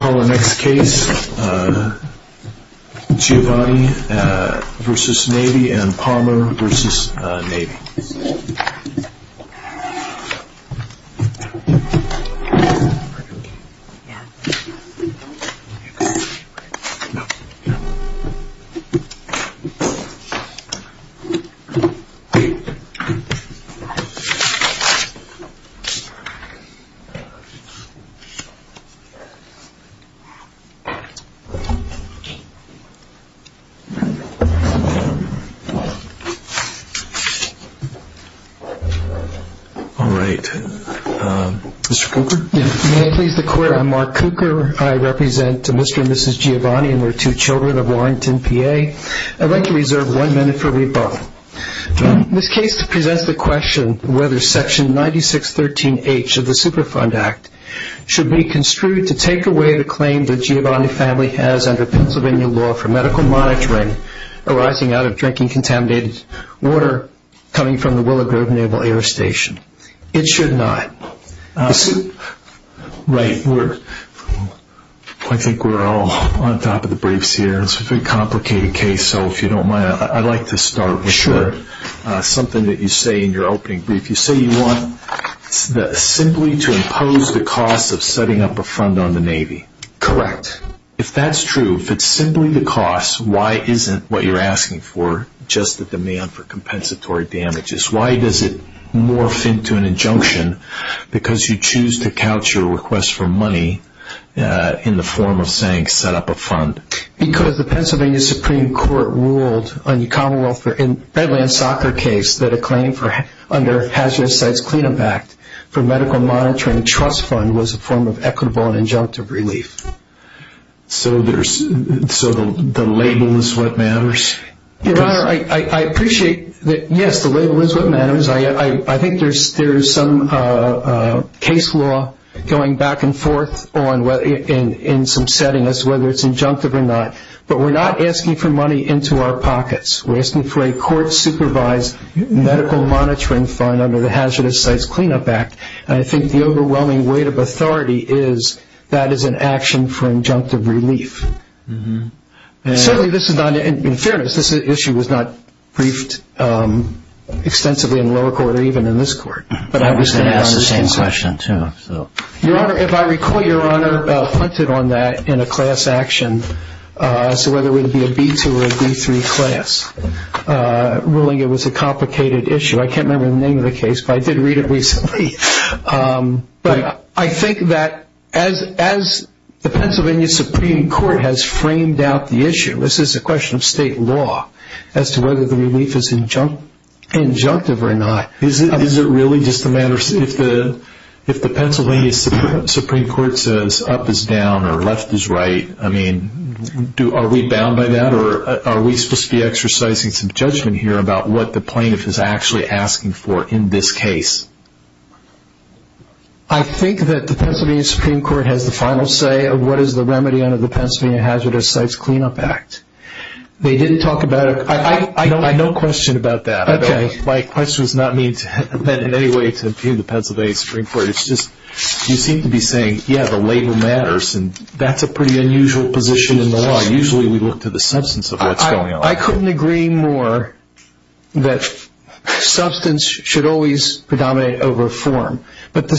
Next case, Giovanni v. Navy and Palmer v. Navy All right, Mr. Cooker. May I please the court, I'm Mark Cooker. I represent Mr. and Mrs. Giovanni and their two children of Warrington, PA. I'd like to reserve one minute for rebuttal. This case presents the question whether section 9613H of the Superfund Act should be construed to take away the claim that Giovanni's family has under Pennsylvania law for medical monitoring arising out of drinking contaminated water coming from the Willow Grove Naval Air Station. It should not. I think we're all on top of the briefs here. It's a very complicated case, so if you don't mind, I'd like to start with something that you say in your opening brief. You say you want simply to impose the cost of setting up a fund on the Navy. Correct. If that's true, if it's simply the cost, why isn't what you're asking for just the demand for compensatory damages? Why does it morph into an injunction because you choose to couch your request for money in the form of saying set up a fund? Because the Pennsylvania Supreme Court ruled on the Commonwealth Redlands soccer case that a claim under Hazardous Sites Cleanup Act for medical monitoring trust fund was a form of equitable and injunctive relief. So the label is what matters? Your Honor, I appreciate that, yes, the label is what matters. I think there's some case law going back and forth in some setting as to whether it's injunctive or not, but we're not asking for money into our pockets. We're asking for a court-supervised medical monitoring fund under the Hazardous Sites Cleanup Act, and I think the overwhelming weight of authority is that is an action for injunctive relief. Certainly this is not, in fairness, this issue was not briefed extensively in lower court or even in this court. But I was going to ask the same question, too. Your Honor, if I recall, your Honor hunted on that in a class action, whether it would be a B2 or a B3 class, ruling it was a complicated issue. I can't remember the name of the case, but I did read it recently. But I think that as the Pennsylvania Supreme Court has framed out the issue, this is a question of state law as to whether the relief is injunctive or not. Is it really just a matter of if the Pennsylvania Supreme Court says up is down or left is right, are we bound by that? Or are we supposed to be exercising some judgment here about what the plaintiff is actually asking for in this case? I think that the Pennsylvania Supreme Court has the final say of what is the remedy under the Pennsylvania Hazardous Sites Cleanup Act. They didn't talk about it. I have no question about that. Okay. My question is not meant in any way to impugn the Pennsylvania Supreme Court. It's just you seem to be saying, yeah, the labor matters, and that's a pretty unusual position in the law. Usually we look to the substance of what's going on. I couldn't agree more that substance should always predominate over form. We're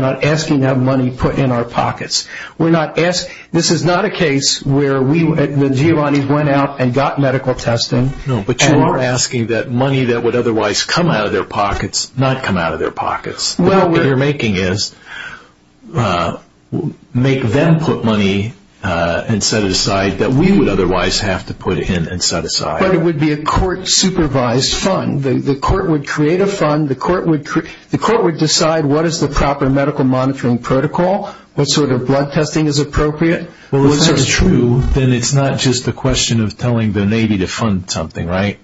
not asking to have money put in our pockets. This is not a case where Giovanni went out and got medical testing. No, but you are asking that money that would otherwise come out of their pockets not come out of their pockets. What you're making is make them put money and set it aside that we would otherwise have to put in and set aside. But it would be a court-supervised fund. The court would create a fund. The court would decide what is the proper medical monitoring protocol, what sort of blood testing is appropriate. Well, if that's true, then it's not just a question of telling the Navy to fund something, right?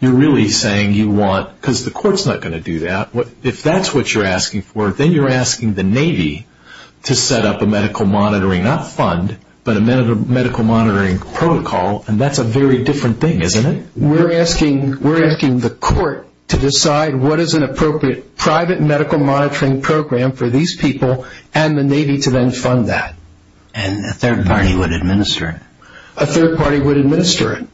You're really saying you want, because the court's not going to do that. If that's what you're asking for, then you're asking the Navy to set up a medical monitoring, not fund, but a medical monitoring protocol, and that's a very different thing, isn't it? We're asking the court to decide what is an appropriate private medical monitoring program for these people and the Navy to then fund that. And a third party would administer it. A third party would administer it,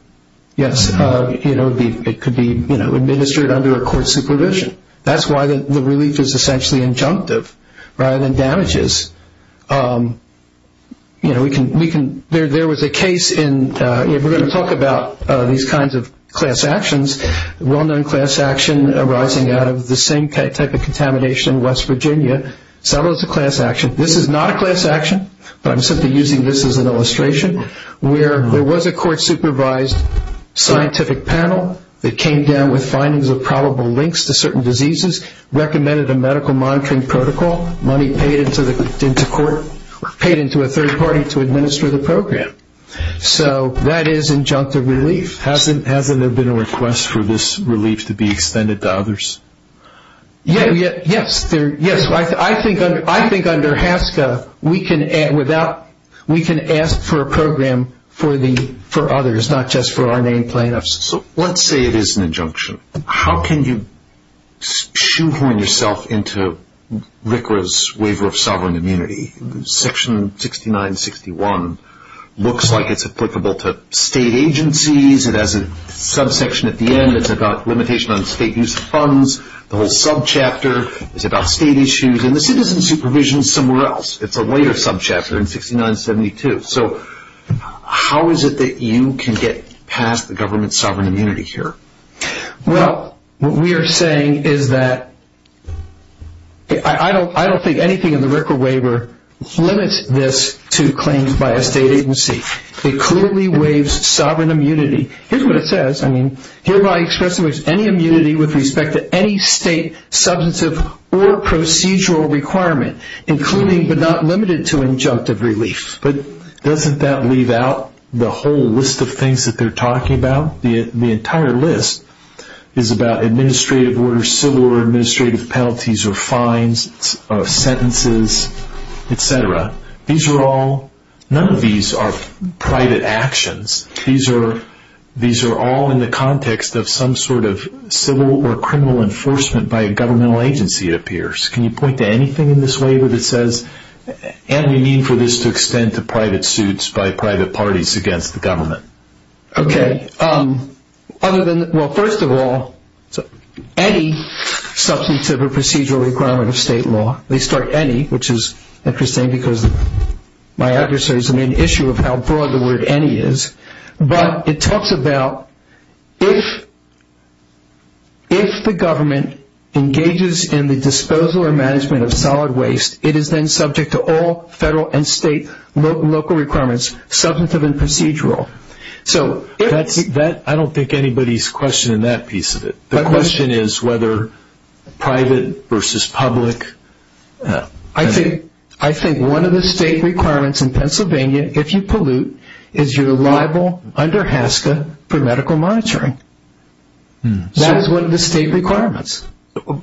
yes. It could be administered under a court supervision. That's why the relief is essentially injunctive rather than damages. There was a case in, we're going to talk about these kinds of class actions, well-known class action arising out of the same type of contamination in West Virginia. Some of it's a class action. This is not a class action, but I'm simply using this as an illustration, where there was a court-supervised scientific panel that came down with findings of probable links to certain diseases, recommended a medical monitoring protocol, money paid into court, paid into a third party to administer the program. So that is injunctive relief. Hasn't there been a request for this relief to be extended to others? Yes. I think under HASCA we can ask for a program for others, not just for our named plaintiffs. Let's say it is an injunction. How can you shoehorn yourself into RCRA's waiver of sovereign immunity? Section 6961 looks like it's applicable to state agencies. It has a subsection at the end. It's about limitation on state use of funds. The whole subchapter is about state issues. And the citizen supervision is somewhere else. It's a later subchapter in 6972. So how is it that you can get past the government's sovereign immunity here? Well, what we are saying is that I don't think anything in the RCRA waiver limits this to claims by a state agency. It clearly waives sovereign immunity. Here's what it says. Hereby expresses any immunity with respect to any state substantive or procedural requirement, including but not limited to injunctive relief. But doesn't that leave out the whole list of things that they're talking about? The entire list is about administrative orders, civil or administrative penalties or fines, sentences, etc. None of these are private actions. These are all in the context of some sort of civil or criminal enforcement by a governmental agency, it appears. Can you point to anything in this waiver that says, and we mean for this to extend to private suits by private parties against the government? Okay. Well, first of all, any substantive or procedural requirement of state law, they start any, which is interesting because my adversary is the main issue of how broad the word any is. But it talks about if the government engages in the disposal or management of solid waste, it is then subject to all federal and state local requirements, substantive and procedural. I don't think anybody's questioning that piece of it. The question is whether private versus public. I think one of the state requirements in Pennsylvania, if you pollute, is you're liable under HASCA for medical monitoring. That is one of the state requirements.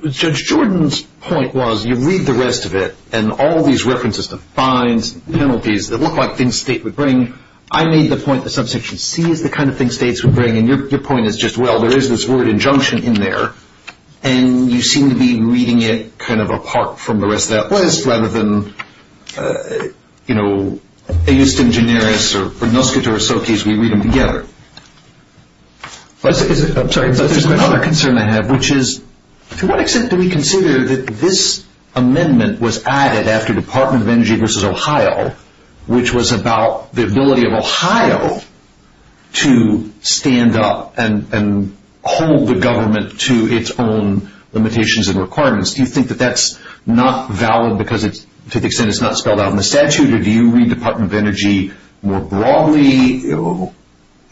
Judge Jordan's point was you read the rest of it and all these references to fines and penalties that look like things the state would bring. I made the point that subsection C is the kind of thing states would bring, and your point is just, well, there is this word injunction in there, and you seem to be reading it kind of apart from the rest of that list rather than, you know, a just in generis or noscator associates, we read them together. I'm sorry. There's another concern I have, which is to what extent do we consider that this amendment was added after Department of Energy versus Ohio, which was about the ability of Ohio to stand up and hold the government to its own limitations and requirements. Do you think that that's not valid because to the extent it's not spelled out in the statute, or do you read Department of Energy more broadly?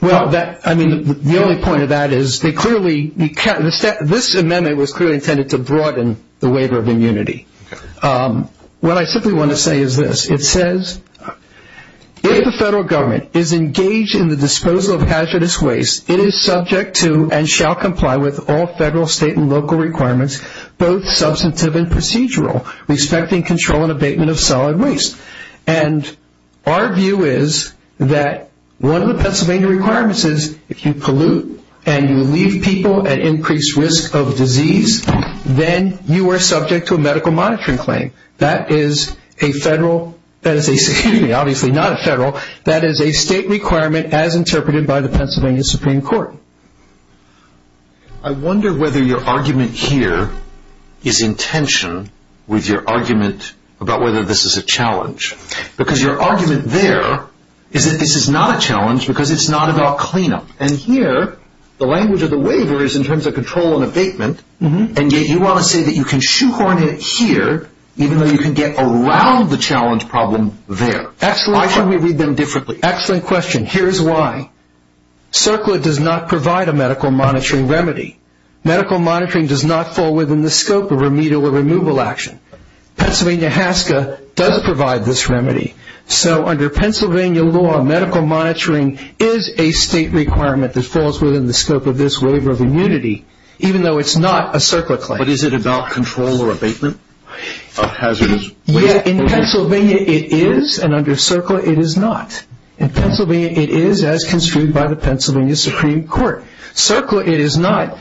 Well, I mean, the only point of that is this amendment was clearly intended to broaden the waiver of immunity. What I simply want to say is this. It says if the federal government is engaged in the disposal of hazardous waste, it is subject to and shall comply with all federal, state, and local requirements, both substantive and procedural, respecting control and abatement of solid waste. And our view is that one of the Pennsylvania requirements is if you pollute and you leave people at increased risk of disease, then you are subject to a medical monitoring claim. That is a federal, excuse me, obviously not a federal, that is a state requirement as interpreted by the Pennsylvania Supreme Court. I wonder whether your argument here is in tension with your argument about whether this is a challenge. Because your argument there is that this is not a challenge because it's not about cleanup. And here the language of the waiver is in terms of control and abatement, and yet you want to say that you can shoehorn it here even though you can get around the challenge problem there. Why should we read them differently? Excellent question. Here's why. CERCLA does not provide a medical monitoring remedy. Medical monitoring does not fall within the scope of remedial or removal action. Pennsylvania HASCA does provide this remedy. So under Pennsylvania law, medical monitoring is a state requirement that falls within the scope of this waiver of immunity, even though it's not a CERCLA claim. But is it about control or abatement of hazardous waste? Yeah, in Pennsylvania it is, and under CERCLA it is not. In Pennsylvania it is, as construed by the Pennsylvania Supreme Court. CERCLA it is not,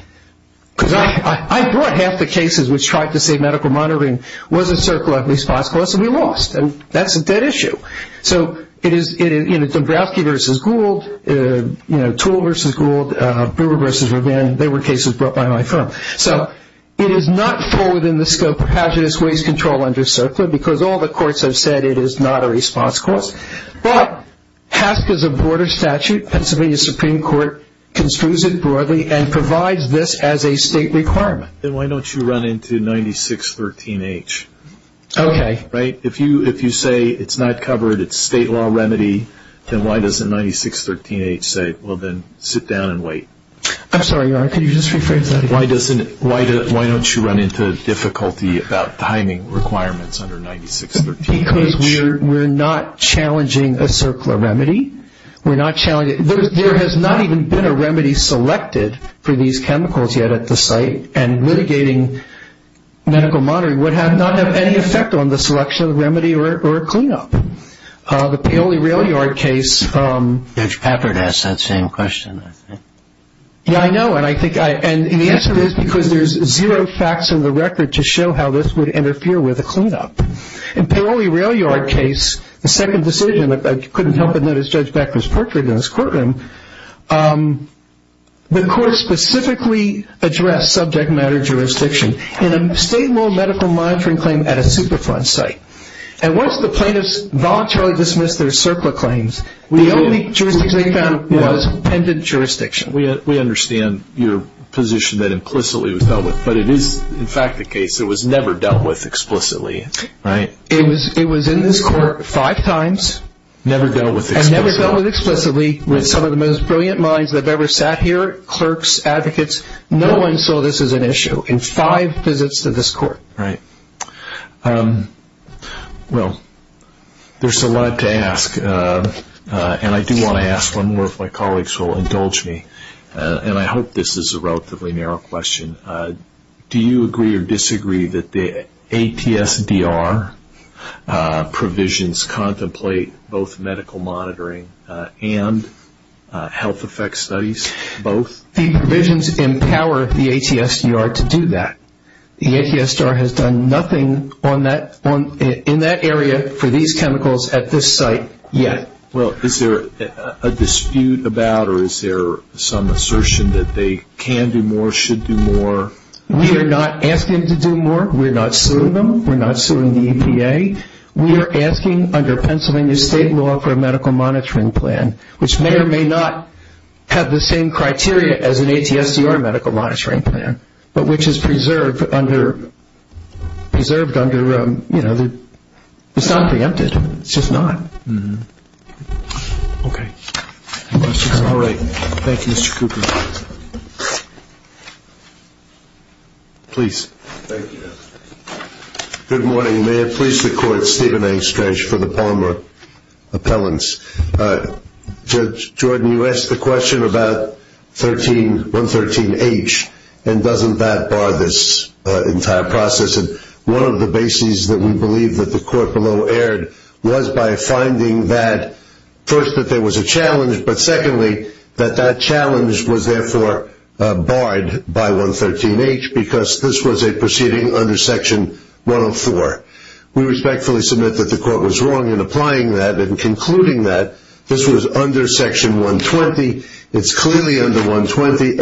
because I brought half the cases which tried to say medical monitoring wasn't CERCLA, at least possibly lost, and that's a dead issue. So it is, you know, Dombrowski v. Gould, you know, Toole v. Gould, Brewer v. Rabin, they were cases brought by my firm. So it is not full within the scope of hazardous waste control under CERCLA, because all the courts have said it is not a response clause. But HASCA is a broader statute. Pennsylvania Supreme Court construes it broadly and provides this as a state requirement. Then why don't you run into 9613H? Okay. Right? If you say it's not covered, it's a state law remedy, then why doesn't 9613H say, well, then sit down and wait? I'm sorry, Your Honor, could you just rephrase that again? Why don't you run into difficulty about timing requirements under 9613H? Because we're not challenging a CERCLA remedy. We're not challenging it. There has not even been a remedy selected for these chemicals yet at the site, and litigating medical monitoring would not have any effect on the selection of the remedy or a cleanup. The Paoli Railyard case. Judge Papert asked that same question, I think. Yeah, I know. And the answer is because there's zero facts in the record to show how this would interfere with a cleanup. In Paoli Railyard case, the second decision, I couldn't help but notice Judge Becker's portrait in his courtroom, the court specifically addressed subject matter jurisdiction in a state law medical monitoring claim at a Superfund site. And once the plaintiffs voluntarily dismissed their CERCLA claims, the only jurisdiction they found was pendent jurisdiction. We understand your position that implicitly it was dealt with, but it is, in fact, the case. It was never dealt with explicitly, right? It was in this court five times. Never dealt with explicitly. And never dealt with explicitly with some of the most brilliant minds that have ever sat here, clerks, advocates. No one saw this as an issue in five visits to this court. Right. Well, there's a lot to ask. And I do want to ask one more if my colleagues will indulge me. And I hope this is a relatively narrow question. Do you agree or disagree that the ATSDR provisions contemplate both medical monitoring and health effects studies both? The provisions empower the ATSDR to do that. The ATSDR has done nothing in that area for these chemicals at this site yet. Well, is there a dispute about or is there some assertion that they can do more, should do more? We are not asking to do more. We're not suing them. We're not suing the EPA. We are asking under Pennsylvania state law for a medical monitoring plan, which may or may not have the same criteria as an ATSDR medical monitoring plan, but which is preserved under, you know, it's not preempted. It's just not. Okay. All right. Thank you, Mr. Cooper. Please. Thank you. Good morning. May it please the Court, Stephen A. Strach for the Palmer appellants. Judge Jordan, you asked the question about 113H, and doesn't that bar this entire process? And one of the bases that we believe that the court below erred was by finding that, first, that there was a challenge, but secondly, that that challenge was therefore barred by 113H because this was a proceeding under Section 104. We respectfully submit that the court was wrong in applying that and concluding that this was under Section 120. It's clearly under 120.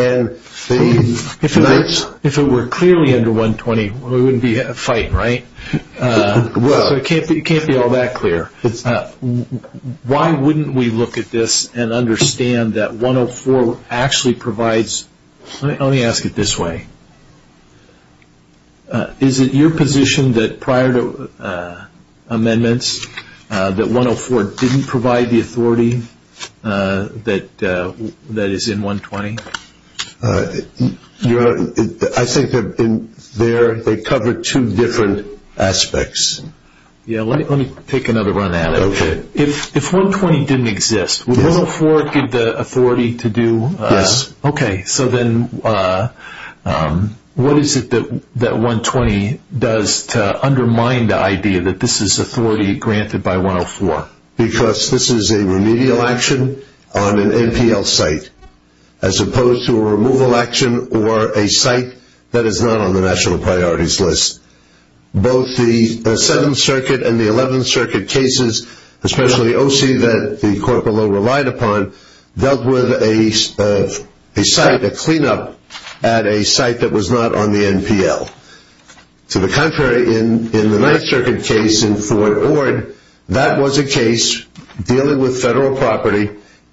If it were clearly under 120, we wouldn't be fighting, right? Well. It can't be all that clear. Why wouldn't we look at this and understand that 104 actually provides – let me ask it this way. Is it your position that prior to amendments, that 104 didn't provide the authority that is in 120? I think they cover two different aspects. Yeah. Let me take another run at it. Okay. If 120 didn't exist, would 104 give the authority to do – Yes. Okay. So then what is it that 120 does to undermine the idea that this is authority granted by 104? Because this is a remedial action on an NPL site as opposed to a removal action or a site that is not on the national priorities list. Both the 7th Circuit and the 11th Circuit cases, especially OC that the court below relied upon, dealt with a site, a cleanup at a site that was not on the NPL. To the contrary, in the 9th Circuit case in Fort Ord, that was a case dealing with federal property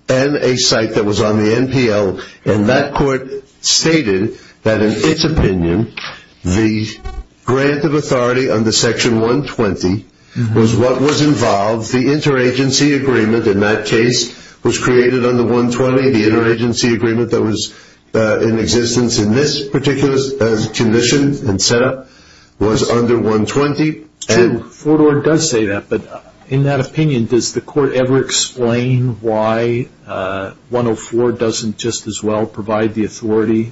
and a site that was on the NPL, and that court stated that in its opinion, the grant of authority under Section 120 was what was involved. The interagency agreement in that case was created under 120. The interagency agreement that was in existence in this particular condition and setup was under 120. True. Fort Ord does say that. But in that opinion, does the court ever explain why 104 doesn't just as well provide the authority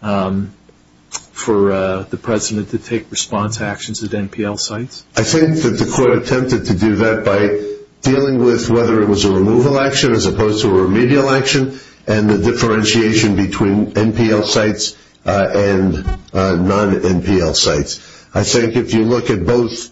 for the president to take response actions at NPL sites? I think that the court attempted to do that by dealing with whether it was a removal action as opposed to a remedial action and the differentiation between NPL sites and non-NPL sites. I think if you look at both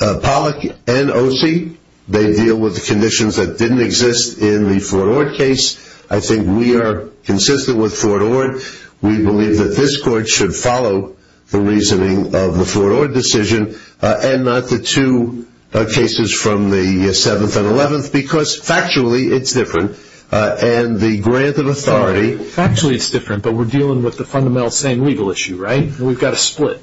Pollack and OC, they deal with the conditions that didn't exist in the Fort Ord case. I think we are consistent with Fort Ord. We believe that this court should follow the reasoning of the Fort Ord decision and not the two cases from the 7th and 11th because factually it's different, and the grant of authority Factually it's different, but we're dealing with the fundamental same legal issue, right? We've got a split.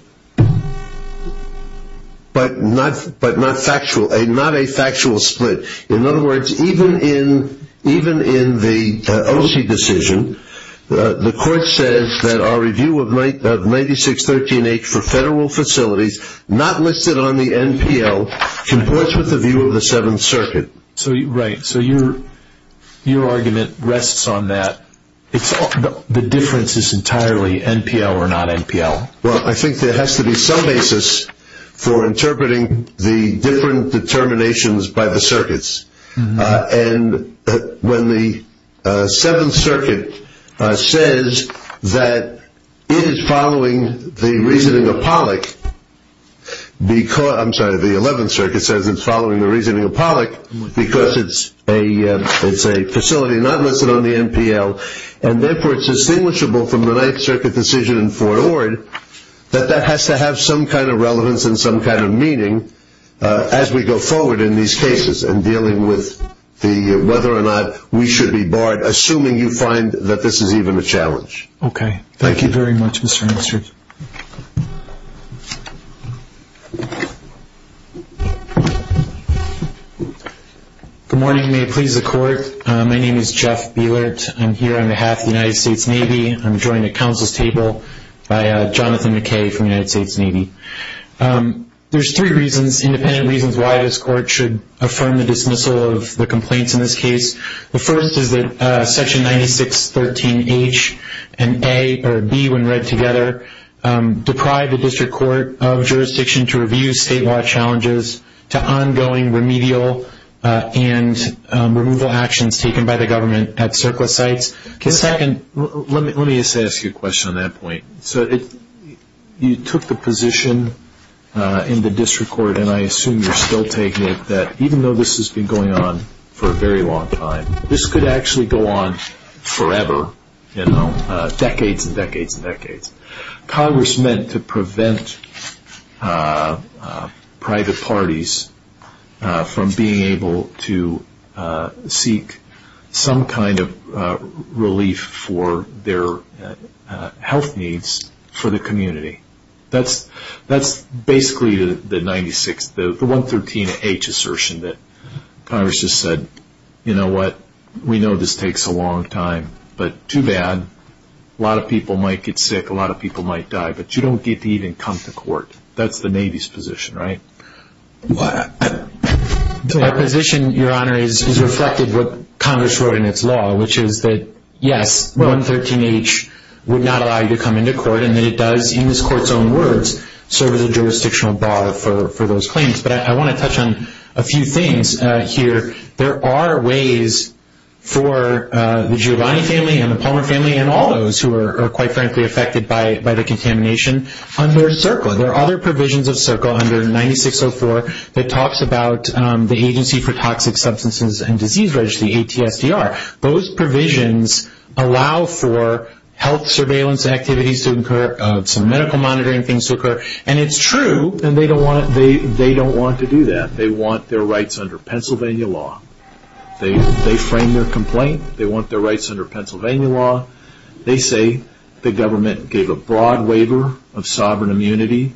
But not factual. Not a factual split. In other words, even in the OC decision, the court says that our review of 9613H for federal facilities, not listed on the NPL, complies with the view of the 7th Circuit. Right. So your argument rests on that. The difference is entirely NPL or non-NPL. Well, I think there has to be some basis for interpreting the different determinations by the circuits. And when the 7th Circuit says that it is following the reasoning of Pollack, I'm sorry, the 11th Circuit says it's following the reasoning of Pollack because it's a facility not listed on the NPL, and therefore it's distinguishable from the 9th Circuit decision in Fort Ord that that has to have some kind of relevance and some kind of meaning as we go forward in these cases in dealing with whether or not we should be barred, assuming you find that this is even a challenge. Okay. Thank you very much, Mr. Minister. Good morning. May it please the Court. My name is Jeff Bielert. I'm here on behalf of the United States Navy. I'm joined at Council's table by Jonathan McKay from the United States Navy. There's three reasons, independent reasons, why this court should affirm the dismissal of the complaints in this case. The first is that Section 9613H and A or B when read together deprive the district court of jurisdiction to review statewide challenges to ongoing remedial and removal actions taken by the government at surplus sites. Let me just ask you a question on that point. You took the position in the district court, and I assume you're still taking it, that even though this has been going on for a very long time, this could actually go on forever, decades and decades and decades. Congress meant to prevent private parties from being able to seek some kind of relief for their health needs for the community. That's basically the 113H assertion that Congress just said, you know what, we know this takes a long time, but too bad. A lot of people might get sick. A lot of people might die, but you don't get to even come to court. That's the Navy's position, right? Our position, Your Honor, is reflected what Congress wrote in its law, which is that, yes, 113H would not allow you to come into court, and that it does, in this court's own words, serve as a jurisdictional bar for those claims. But I want to touch on a few things here. There are ways for the Giovanni family and the Palmer family and all those who are quite frankly affected by the contamination under CERCLA. There are other provisions of CERCLA under 9604 that talks about the Agency for Toxic Substances and Disease Registry, ATSDR. Those provisions allow for health surveillance activities to occur, some medical monitoring things to occur. And it's true, and they don't want to do that. They want their rights under Pennsylvania law. They frame their complaint. They want their rights under Pennsylvania law. They say the government gave a broad waiver of sovereign immunity.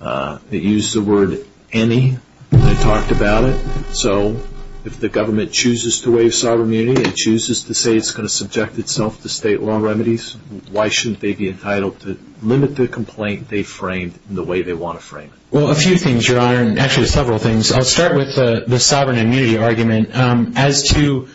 They used the word any. They talked about it. So if the government chooses to waive sovereign immunity and chooses to say it's going to subject itself to state law remedies, why shouldn't they be entitled to limit the complaint they framed in the way they want to frame it? Well, a few things, Your Honor, and actually several things. I'll start with the sovereign immunity argument. As to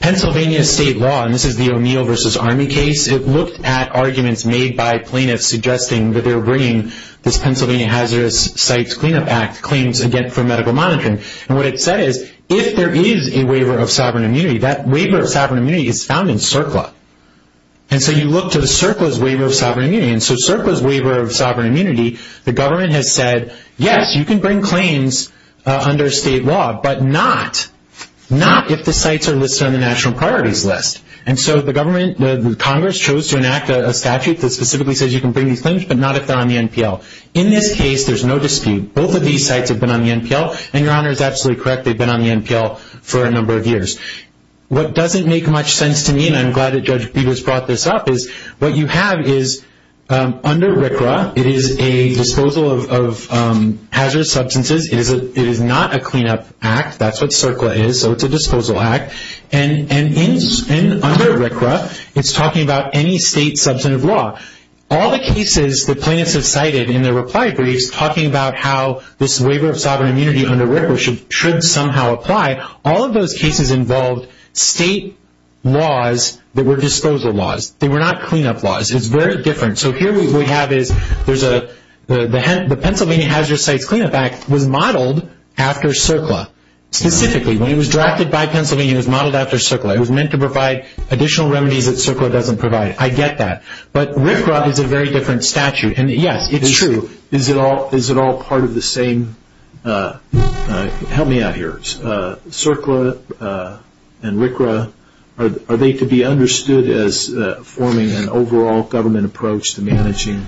Pennsylvania state law, and this is the O'Neill v. Army case, it looked at arguments made by plaintiffs suggesting that they were bringing this Pennsylvania Hazardous Sites Cleanup Act claims for medical monitoring. And what it said is if there is a waiver of sovereign immunity, that waiver of sovereign immunity is found in CERCLA. And so you look to the CERCLA's waiver of sovereign immunity. And so CERCLA's waiver of sovereign immunity, the government has said, yes, you can bring claims under state law, but not if the sites are listed on the national priorities list. And so the Congress chose to enact a statute that specifically says you can bring these claims, but not if they're on the NPL. In this case, there's no dispute. Both of these sites have been on the NPL, and Your Honor is absolutely correct. They've been on the NPL for a number of years. What doesn't make much sense to me, and I'm glad that Judge Peters brought this up, is what you have is under RCRA, it is a disposal of hazardous substances. It is not a cleanup act. That's what CERCLA is, so it's a disposal act. And under RCRA, it's talking about any state substantive law. All the cases that plaintiffs have cited in their reply briefs, talking about how this waiver of sovereign immunity under RCRA should somehow apply, all of those cases involved state laws that were disposal laws. They were not cleanup laws. It's very different. So here what we have is the Pennsylvania Hazardous Sites Cleanup Act was modeled after CERCLA, specifically. When it was drafted by Pennsylvania, it was modeled after CERCLA. It was meant to provide additional remedies that CERCLA doesn't provide. I get that. But RCRA is a very different statute. Yes, it's true. Is it all part of the same? Help me out here. CERCLA and RCRA, are they to be understood as forming an overall government approach to managing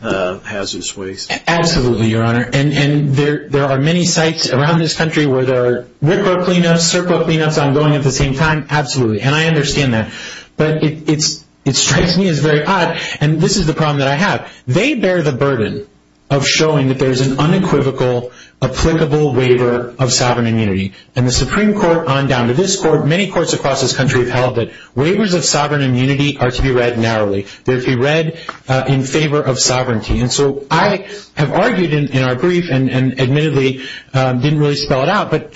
hazardous waste? Absolutely, Your Honor. There are many sites around this country where there are RCRA cleanups, CERCLA cleanups ongoing at the same time. Absolutely. And I understand that. But it strikes me as very odd. And this is the problem that I have. They bear the burden of showing that there's an unequivocal, applicable waiver of sovereign immunity. And the Supreme Court on down to this Court, many courts across this country have held that waivers of sovereign immunity are to be read narrowly. They're to be read in favor of sovereignty. And so I have argued in our brief and admittedly didn't really spell it out, but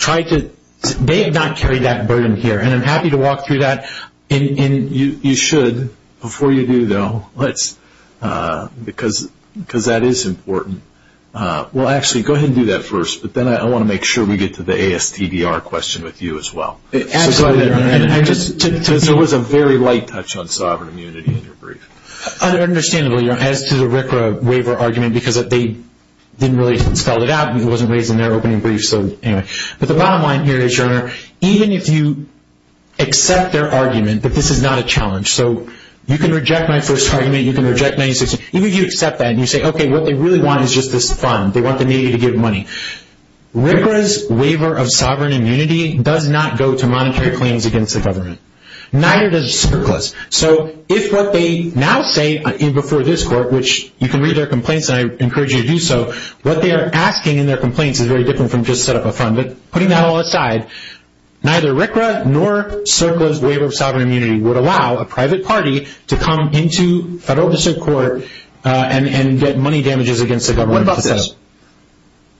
they have not carried that burden here. And I'm happy to walk through that. And you should, before you do, though, because that is important. Well, actually, go ahead and do that first. But then I want to make sure we get to the ASTDR question with you as well. Absolutely, Your Honor. Because there was a very light touch on sovereign immunity in your brief. Understandably, Your Honor, as to the RCRA waiver argument, because they didn't really spell it out. It wasn't raised in their opening brief. But the bottom line here is, Your Honor, even if you accept their argument that this is not a challenge. So you can reject my first argument. You can reject 96. Even if you accept that and you say, okay, what they really want is just this fund. They want the media to give money. RCRA's waiver of sovereign immunity does not go to monetary claims against the government. Neither does the surplus. So if what they now say before this Court, which you can read their complaints, and I encourage you to do so, what they are asking in their complaints is very different from just set up a fund. But putting that all aside, neither RCRA nor CERCLA's waiver of sovereign immunity would allow a private party to come into federal district court and get money damages against the government. What about this?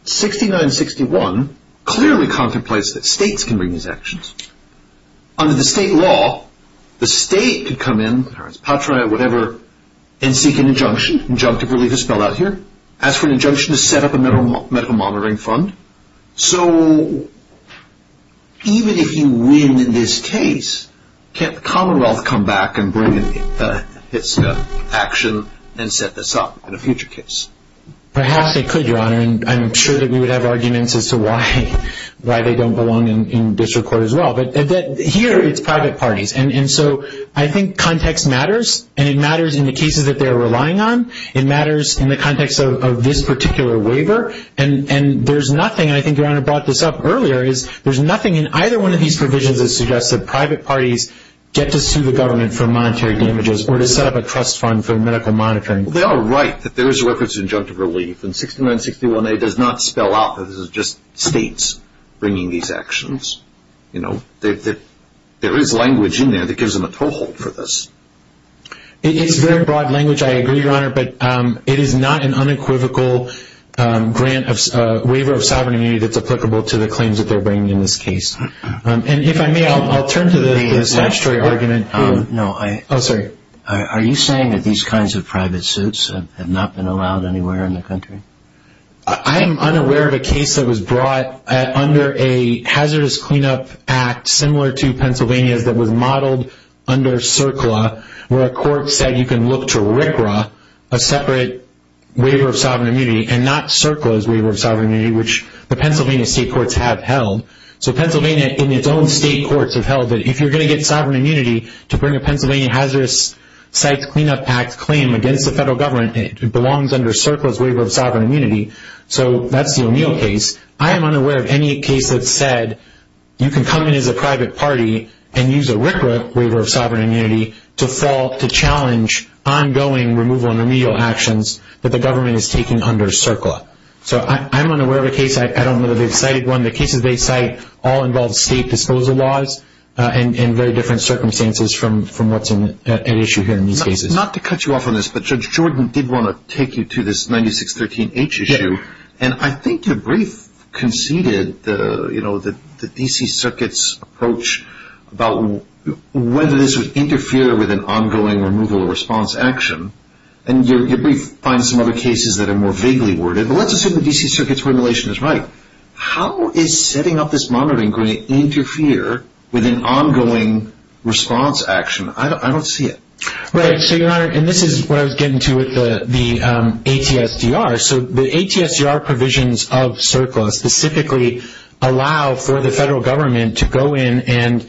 6961 clearly contemplates that states can bring these actions. Under the state law, the state could come in, patria, whatever, and seek an injunction. Injunctive relief is spelled out here. Ask for an injunction to set up a medical monitoring fund. So even if you win in this case, can't the Commonwealth come back and bring its action and set this up in a future case? Perhaps they could, Your Honor. And I'm sure that we would have arguments as to why they don't belong in district court as well. But here it's private parties. And so I think context matters. And it matters in the cases that they're relying on. It matters in the context of this particular waiver. And there's nothing, and I think Your Honor brought this up earlier, is there's nothing in either one of these provisions that suggests that private parties get to sue the government for monetary damages or to set up a trust fund for medical monitoring. They are right that there is a reference to injunctive relief. And 6961A does not spell out that this is just states bringing these actions. You know, there is language in there that gives them a toehold for this. It's very broad language. I agree, Your Honor. But it is not an unequivocal waiver of sovereign immunity that's applicable to the claims that they're bringing in this case. And if I may, I'll turn to the statutory argument. No, I – Oh, sorry. Are you saying that these kinds of private suits have not been allowed anywhere in the country? I am unaware of a case that was brought under a hazardous cleanup act similar to Pennsylvania's that was modeled under CERCLA where a court said you can look to RCRA, a separate waiver of sovereign immunity, and not CERCLA's waiver of sovereign immunity, which the Pennsylvania state courts have held. So Pennsylvania in its own state courts have held that if you're going to get sovereign immunity to bring a Pennsylvania hazardous sites cleanup act claim against the federal government, it belongs under CERCLA's waiver of sovereign immunity. So that's the O'Neill case. I am unaware of any case that said you can come in as a private party and use a RCRA waiver of sovereign immunity to challenge ongoing removal and remedial actions that the government is taking under CERCLA. So I'm unaware of a case. I don't know that they've cited one. The cases they cite all involve state disposal laws and very different circumstances from what's at issue here in these cases. Not to cut you off on this, but Judge Jordan did want to take you to this 9613H issue. Yes. And I think your brief conceded, you know, the D.C. Circuit's approach about whether this would interfere with an ongoing removal or response action. And your brief finds some other cases that are more vaguely worded. But let's assume the D.C. Circuit's formulation is right. How is setting up this monitoring going to interfere with an ongoing response action? I don't see it. Right. So, Your Honor, and this is what I was getting to with the ATSDR. So the ATSDR provisions of CERCLA specifically allow for the federal government to go in and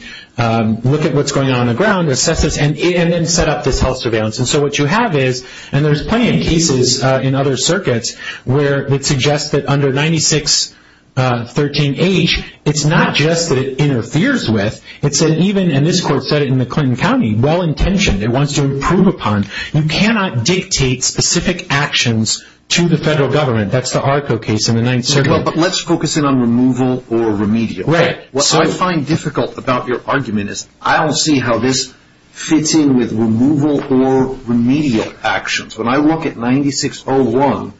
look at what's going on on the ground, assess this, and then set up this health surveillance. And so what you have is, and there's plenty of cases in other circuits where it suggests that under 9613H, it's not just that it interferes with. It's an even, and this court said it in the Clinton County, well-intentioned. It wants to improve upon. You cannot dictate specific actions to the federal government. That's the ARCO case in the Ninth Circuit. Well, but let's focus in on removal or remedial. Right. What I find difficult about your argument is I don't see how this fits in with removal or remedial actions. When I look at 9601,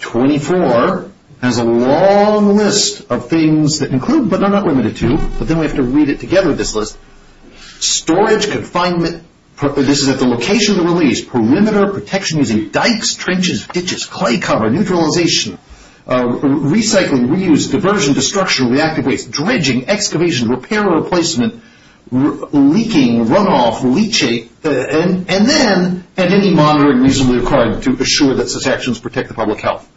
24 has a long list of things that include, but they're not limited to, but then we have to read it together, this list. Storage, confinement. This is at the location of the release. Perimeter, protection using dikes, trenches, ditches, clay cover, neutralization, recycling, reuse, diversion, destruction, reactive waste, dredging, excavation, repair or replacement, leaking, runoff, leachate, and then any monitoring reasonably required to assure that such actions protect the public health.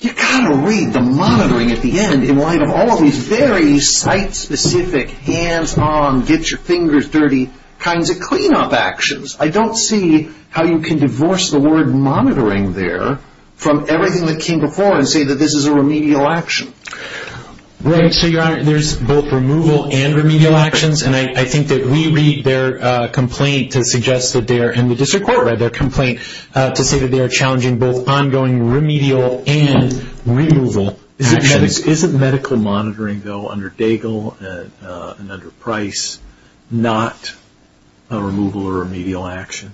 You've got to read the monitoring at the end in light of all of these very site-specific, hands-on, get-your-fingers-dirty kinds of clean-up actions. I don't see how you can divorce the word monitoring there from everything that came before and say that this is a remedial action. Right. So, Your Honor, there's both removal and remedial actions, and I think that we read their complaint to suggest that they are, and the district court read their complaint to say that they are challenging both ongoing remedial and removal actions. Isn't medical monitoring, though, under Daigle and under Price not a removal or remedial action?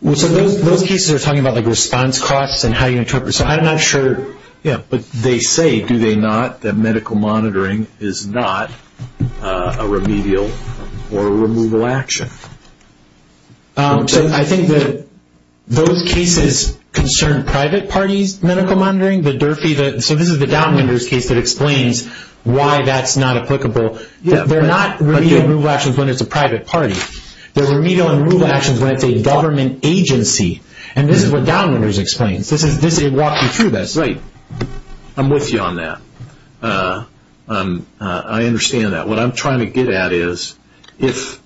Well, so those cases are talking about, like, response costs and how you interpret, so I'm not sure. Yeah, but they say, do they not, that medical monitoring is not a remedial or a removal action. So I think that those cases concern private parties, medical monitoring, the Durfee, so this is the Downwinders case that explains why that's not applicable. They're not remedial and removal actions when it's a private party. They're remedial and removal actions when it's a government agency, and this is what Downwinders explains. This is walking through this. Right. I'm with you on that. I understand that. What I'm trying to get at is if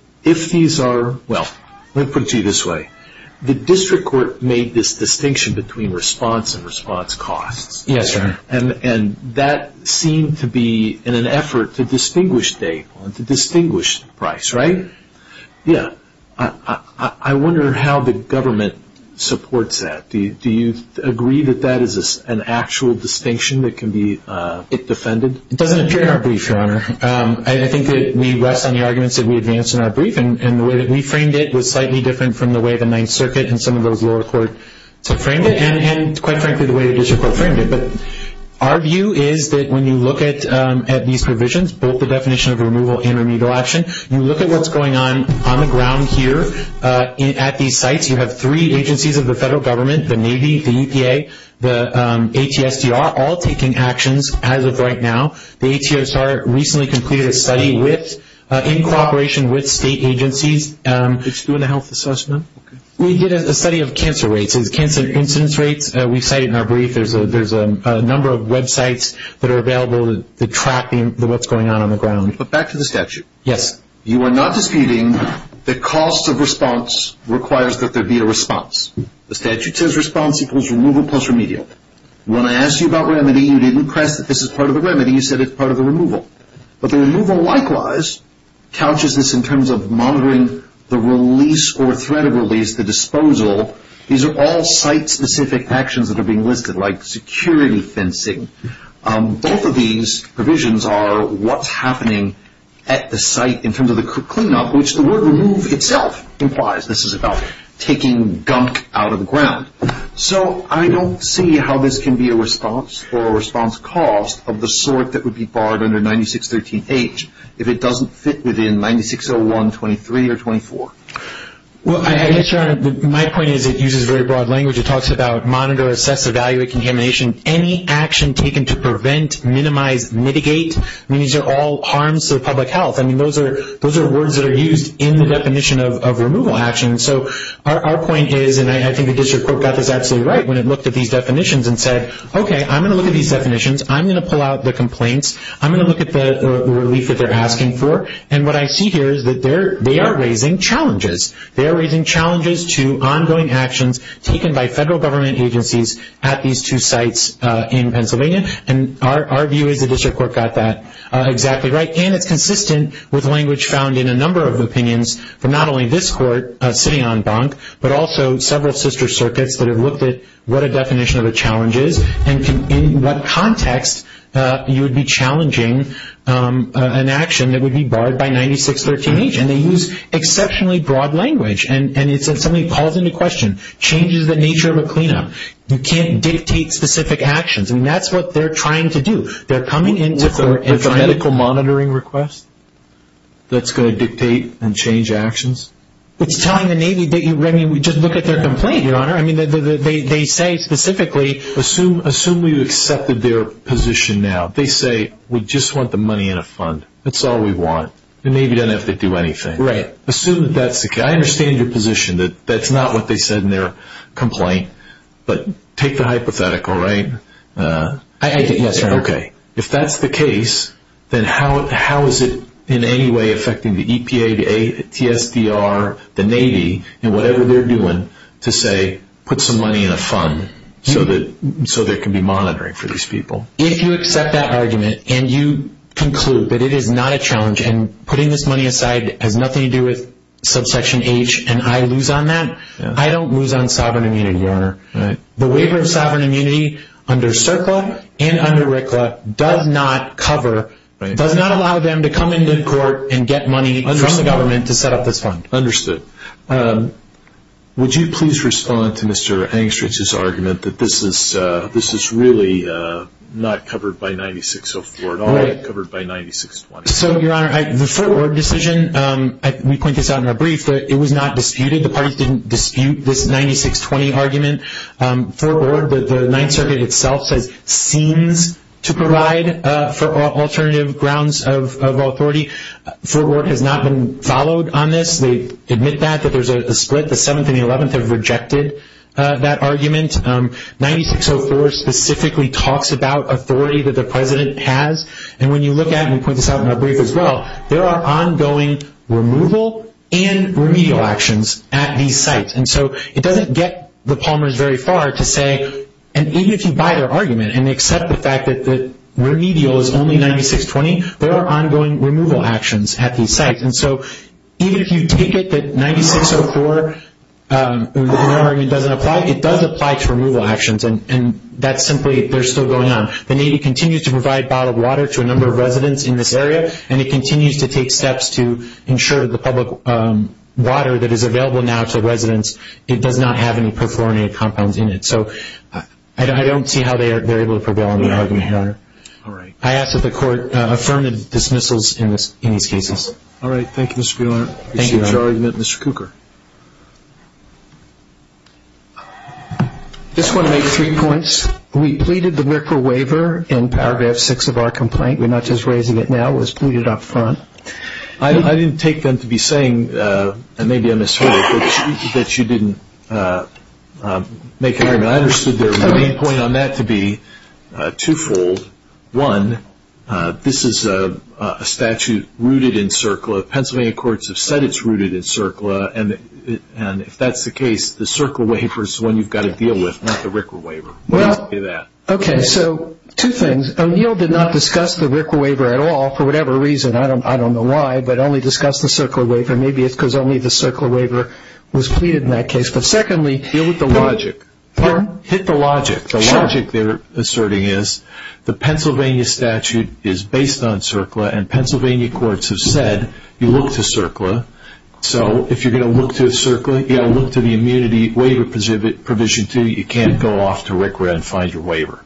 these are, well, let me put it to you this way. The district court made this distinction between response and response costs. Yes, sir. And that seemed to be in an effort to distinguish Daigle and to distinguish Price, right? Yeah. I wonder how the government supports that. Do you agree that that is an actual distinction that can be defended? It doesn't appear in our brief, Your Honor. I think that we rest on the arguments that we advance in our brief, and the way that we framed it was slightly different from the way the Ninth Circuit and some of those lower courts have framed it and, quite frankly, the way the district court framed it. But our view is that when you look at these provisions, both the definition of removal and remedial action, you look at what's going on on the ground here at these sites. You have three agencies of the federal government, the Navy, the EPA, the ATSDR, all taking actions as of right now. The ATSR recently completed a study in cooperation with state agencies. It's doing a health assessment? We did a study of cancer rates, cancer incidence rates. We cite it in our brief. There's a number of websites that are available to track what's going on on the ground. But back to the statute. Yes. You are not disputing the cost of response requires that there be a response. The statute says response equals removal plus remedial. When I asked you about remedy, you didn't press that this is part of the remedy. You said it's part of the removal. But the removal likewise couches this in terms of monitoring the release or threat of release, the disposal. These are all site-specific actions that are being listed, like security fencing. Both of these provisions are what's happening at the site in terms of the cleanup, which the word remove itself implies. This is about taking gunk out of the ground. So I don't see how this can be a response or a response cost of the sort that would be barred under 9613H if it doesn't fit within 9601, 23, or 24. Well, my point is it uses very broad language. It talks about monitor, assess, evaluate contamination. Any action taken to prevent, minimize, mitigate. These are all harms to public health. I mean, those are words that are used in the definition of removal action. So our point is, and I think the district court got this absolutely right when it looked at these definitions and said, okay, I'm going to look at these definitions. I'm going to pull out the complaints. I'm going to look at the relief that they're asking for. And what I see here is that they are raising challenges. They are raising challenges to ongoing actions taken by federal government agencies at these two sites in Pennsylvania. And our view is the district court got that exactly right. And it's consistent with language found in a number of opinions from not only this court, sitting on bunk, but also several sister circuits that have looked at what a definition of a challenge is and in what context you would be challenging an action that would be barred by 9613H. And they use exceptionally broad language. And it's something that calls into question, changes the nature of a cleanup. You can't dictate specific actions. I mean, that's what they're trying to do. They're coming in and trying to... Is it a medical monitoring request that's going to dictate and change actions? It's telling the Navy, I mean, just look at their complaint, Your Honor. I mean, they say specifically... Assume we accepted their position now. They say, we just want the money in a fund. That's all we want. The Navy doesn't have to do anything. Right. Assume that that's the case. I understand your position that that's not what they said in their complaint. But take the hypothetical, right? Yes, Your Honor. Okay. If that's the case, then how is it in any way affecting the EPA, the TSDR, the Navy, and whatever they're doing to say put some money in a fund so there can be monitoring for these people? If you accept that argument and you conclude that it is not a challenge and putting this money aside has nothing to do with subsection H and I lose on that, I don't lose on sovereign immunity, Your Honor. The waiver of sovereign immunity under CERCLA and under RCLA does not cover, does not allow them to come into court and get money from the government to set up this fund. Understood. Would you please respond to Mr. Engstrich's argument that this is really not covered by 9604 at all? Right. It's covered by 9620. So, Your Honor, the Fort Ward decision, we point this out in our brief, it was not disputed. The parties didn't dispute this 9620 argument. Fort Ward, the Ninth Circuit itself says seems to provide for alternative grounds of authority. Fort Ward has not been followed on this. They admit that, that there's a split. The 7th and the 11th have rejected that argument. 9604 specifically talks about authority that the President has. And when you look at it, and we point this out in our brief as well, there are ongoing removal and remedial actions at these sites. And so it doesn't get the Palmers very far to say, and even if you buy their argument and accept the fact that remedial is only 9620, there are ongoing removal actions at these sites. And so even if you take it that 9604 doesn't apply, it does apply to removal actions. And that's simply, they're still going on. The Navy continues to provide bottled water to a number of residents in this area, and it continues to take steps to ensure that the public water that is available now to residents, it does not have any perfluorinated compounds in it. So I don't see how they're able to prevail on the argument, Your Honor. All right. I ask that the Court affirm the dismissals in these cases. All right. Thank you, Mr. Buehler. Thank you, Your Honor. I appreciate your argument, Mr. Cooker. I just want to make three points. We pleaded the Miracle Waiver in Paragraph 6 of our complaint. We're not just raising it now. It was pleaded up front. I didn't take them to be saying, and maybe I misheard it, that you didn't make an argument. I understood the main point on that to be twofold. One, this is a statute rooted in CERCLA. Pennsylvania courts have said it's rooted in CERCLA, and if that's the case, the CERCLA waiver is the one you've got to deal with, not the RICRA waiver. Well, okay, so two things. O'Neill did not discuss the RICRA waiver at all for whatever reason. I don't know why, but only discussed the CERCLA waiver. Maybe it's because only the CERCLA waiver was pleaded in that case. Secondly, deal with the logic. Hit the logic. The logic they're asserting is the Pennsylvania statute is based on CERCLA, and Pennsylvania courts have said you look to CERCLA. So if you're going to look to CERCLA, you've got to look to the immunity waiver provision, too. You can't go off to RICRA and find your waiver.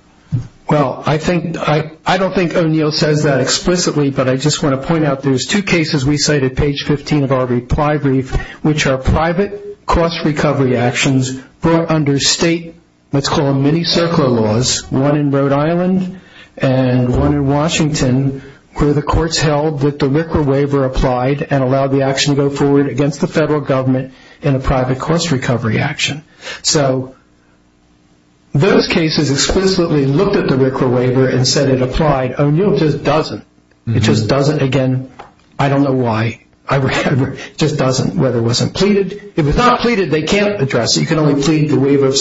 Well, I don't think O'Neill says that explicitly, but I just want to point out there's two cases we cited, page 15 of our reply brief, which are private cost recovery actions brought under state, let's call them mini CERCLA laws, one in Rhode Island and one in Washington, where the courts held that the RICRA waiver applied and allowed the action to go forward against the federal government in a private cost recovery action. So those cases explicitly looked at the RICRA waiver and said it applied. O'Neill just doesn't. It just doesn't. Again, I don't know why. It just doesn't, whether it wasn't pleaded. If it's not pleaded, they can't address it. You can only plead the waiver of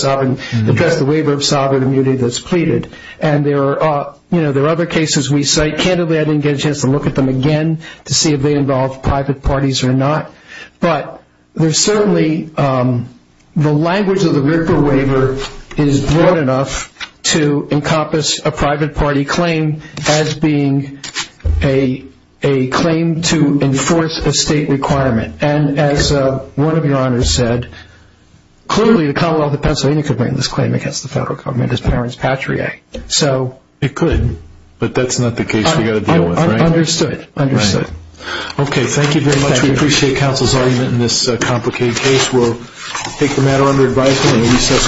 sovereign immunity that's pleaded. And there are other cases we cite. Candidly, I didn't get a chance to look at them again to see if they involve private parties or not. But there's certainly the language of the RICRA waiver is broad enough to encompass a private party claim as being a claim to enforce a state requirement. And as one of your honors said, clearly the Commonwealth of Pennsylvania could bring this claim against the federal government as parents patrie. It could, but that's not the case we've got to deal with, right? Understood. Understood. Okay. Thank you very much. We appreciate counsel's argument in this complicated case. We'll take the matter under advisement and recess.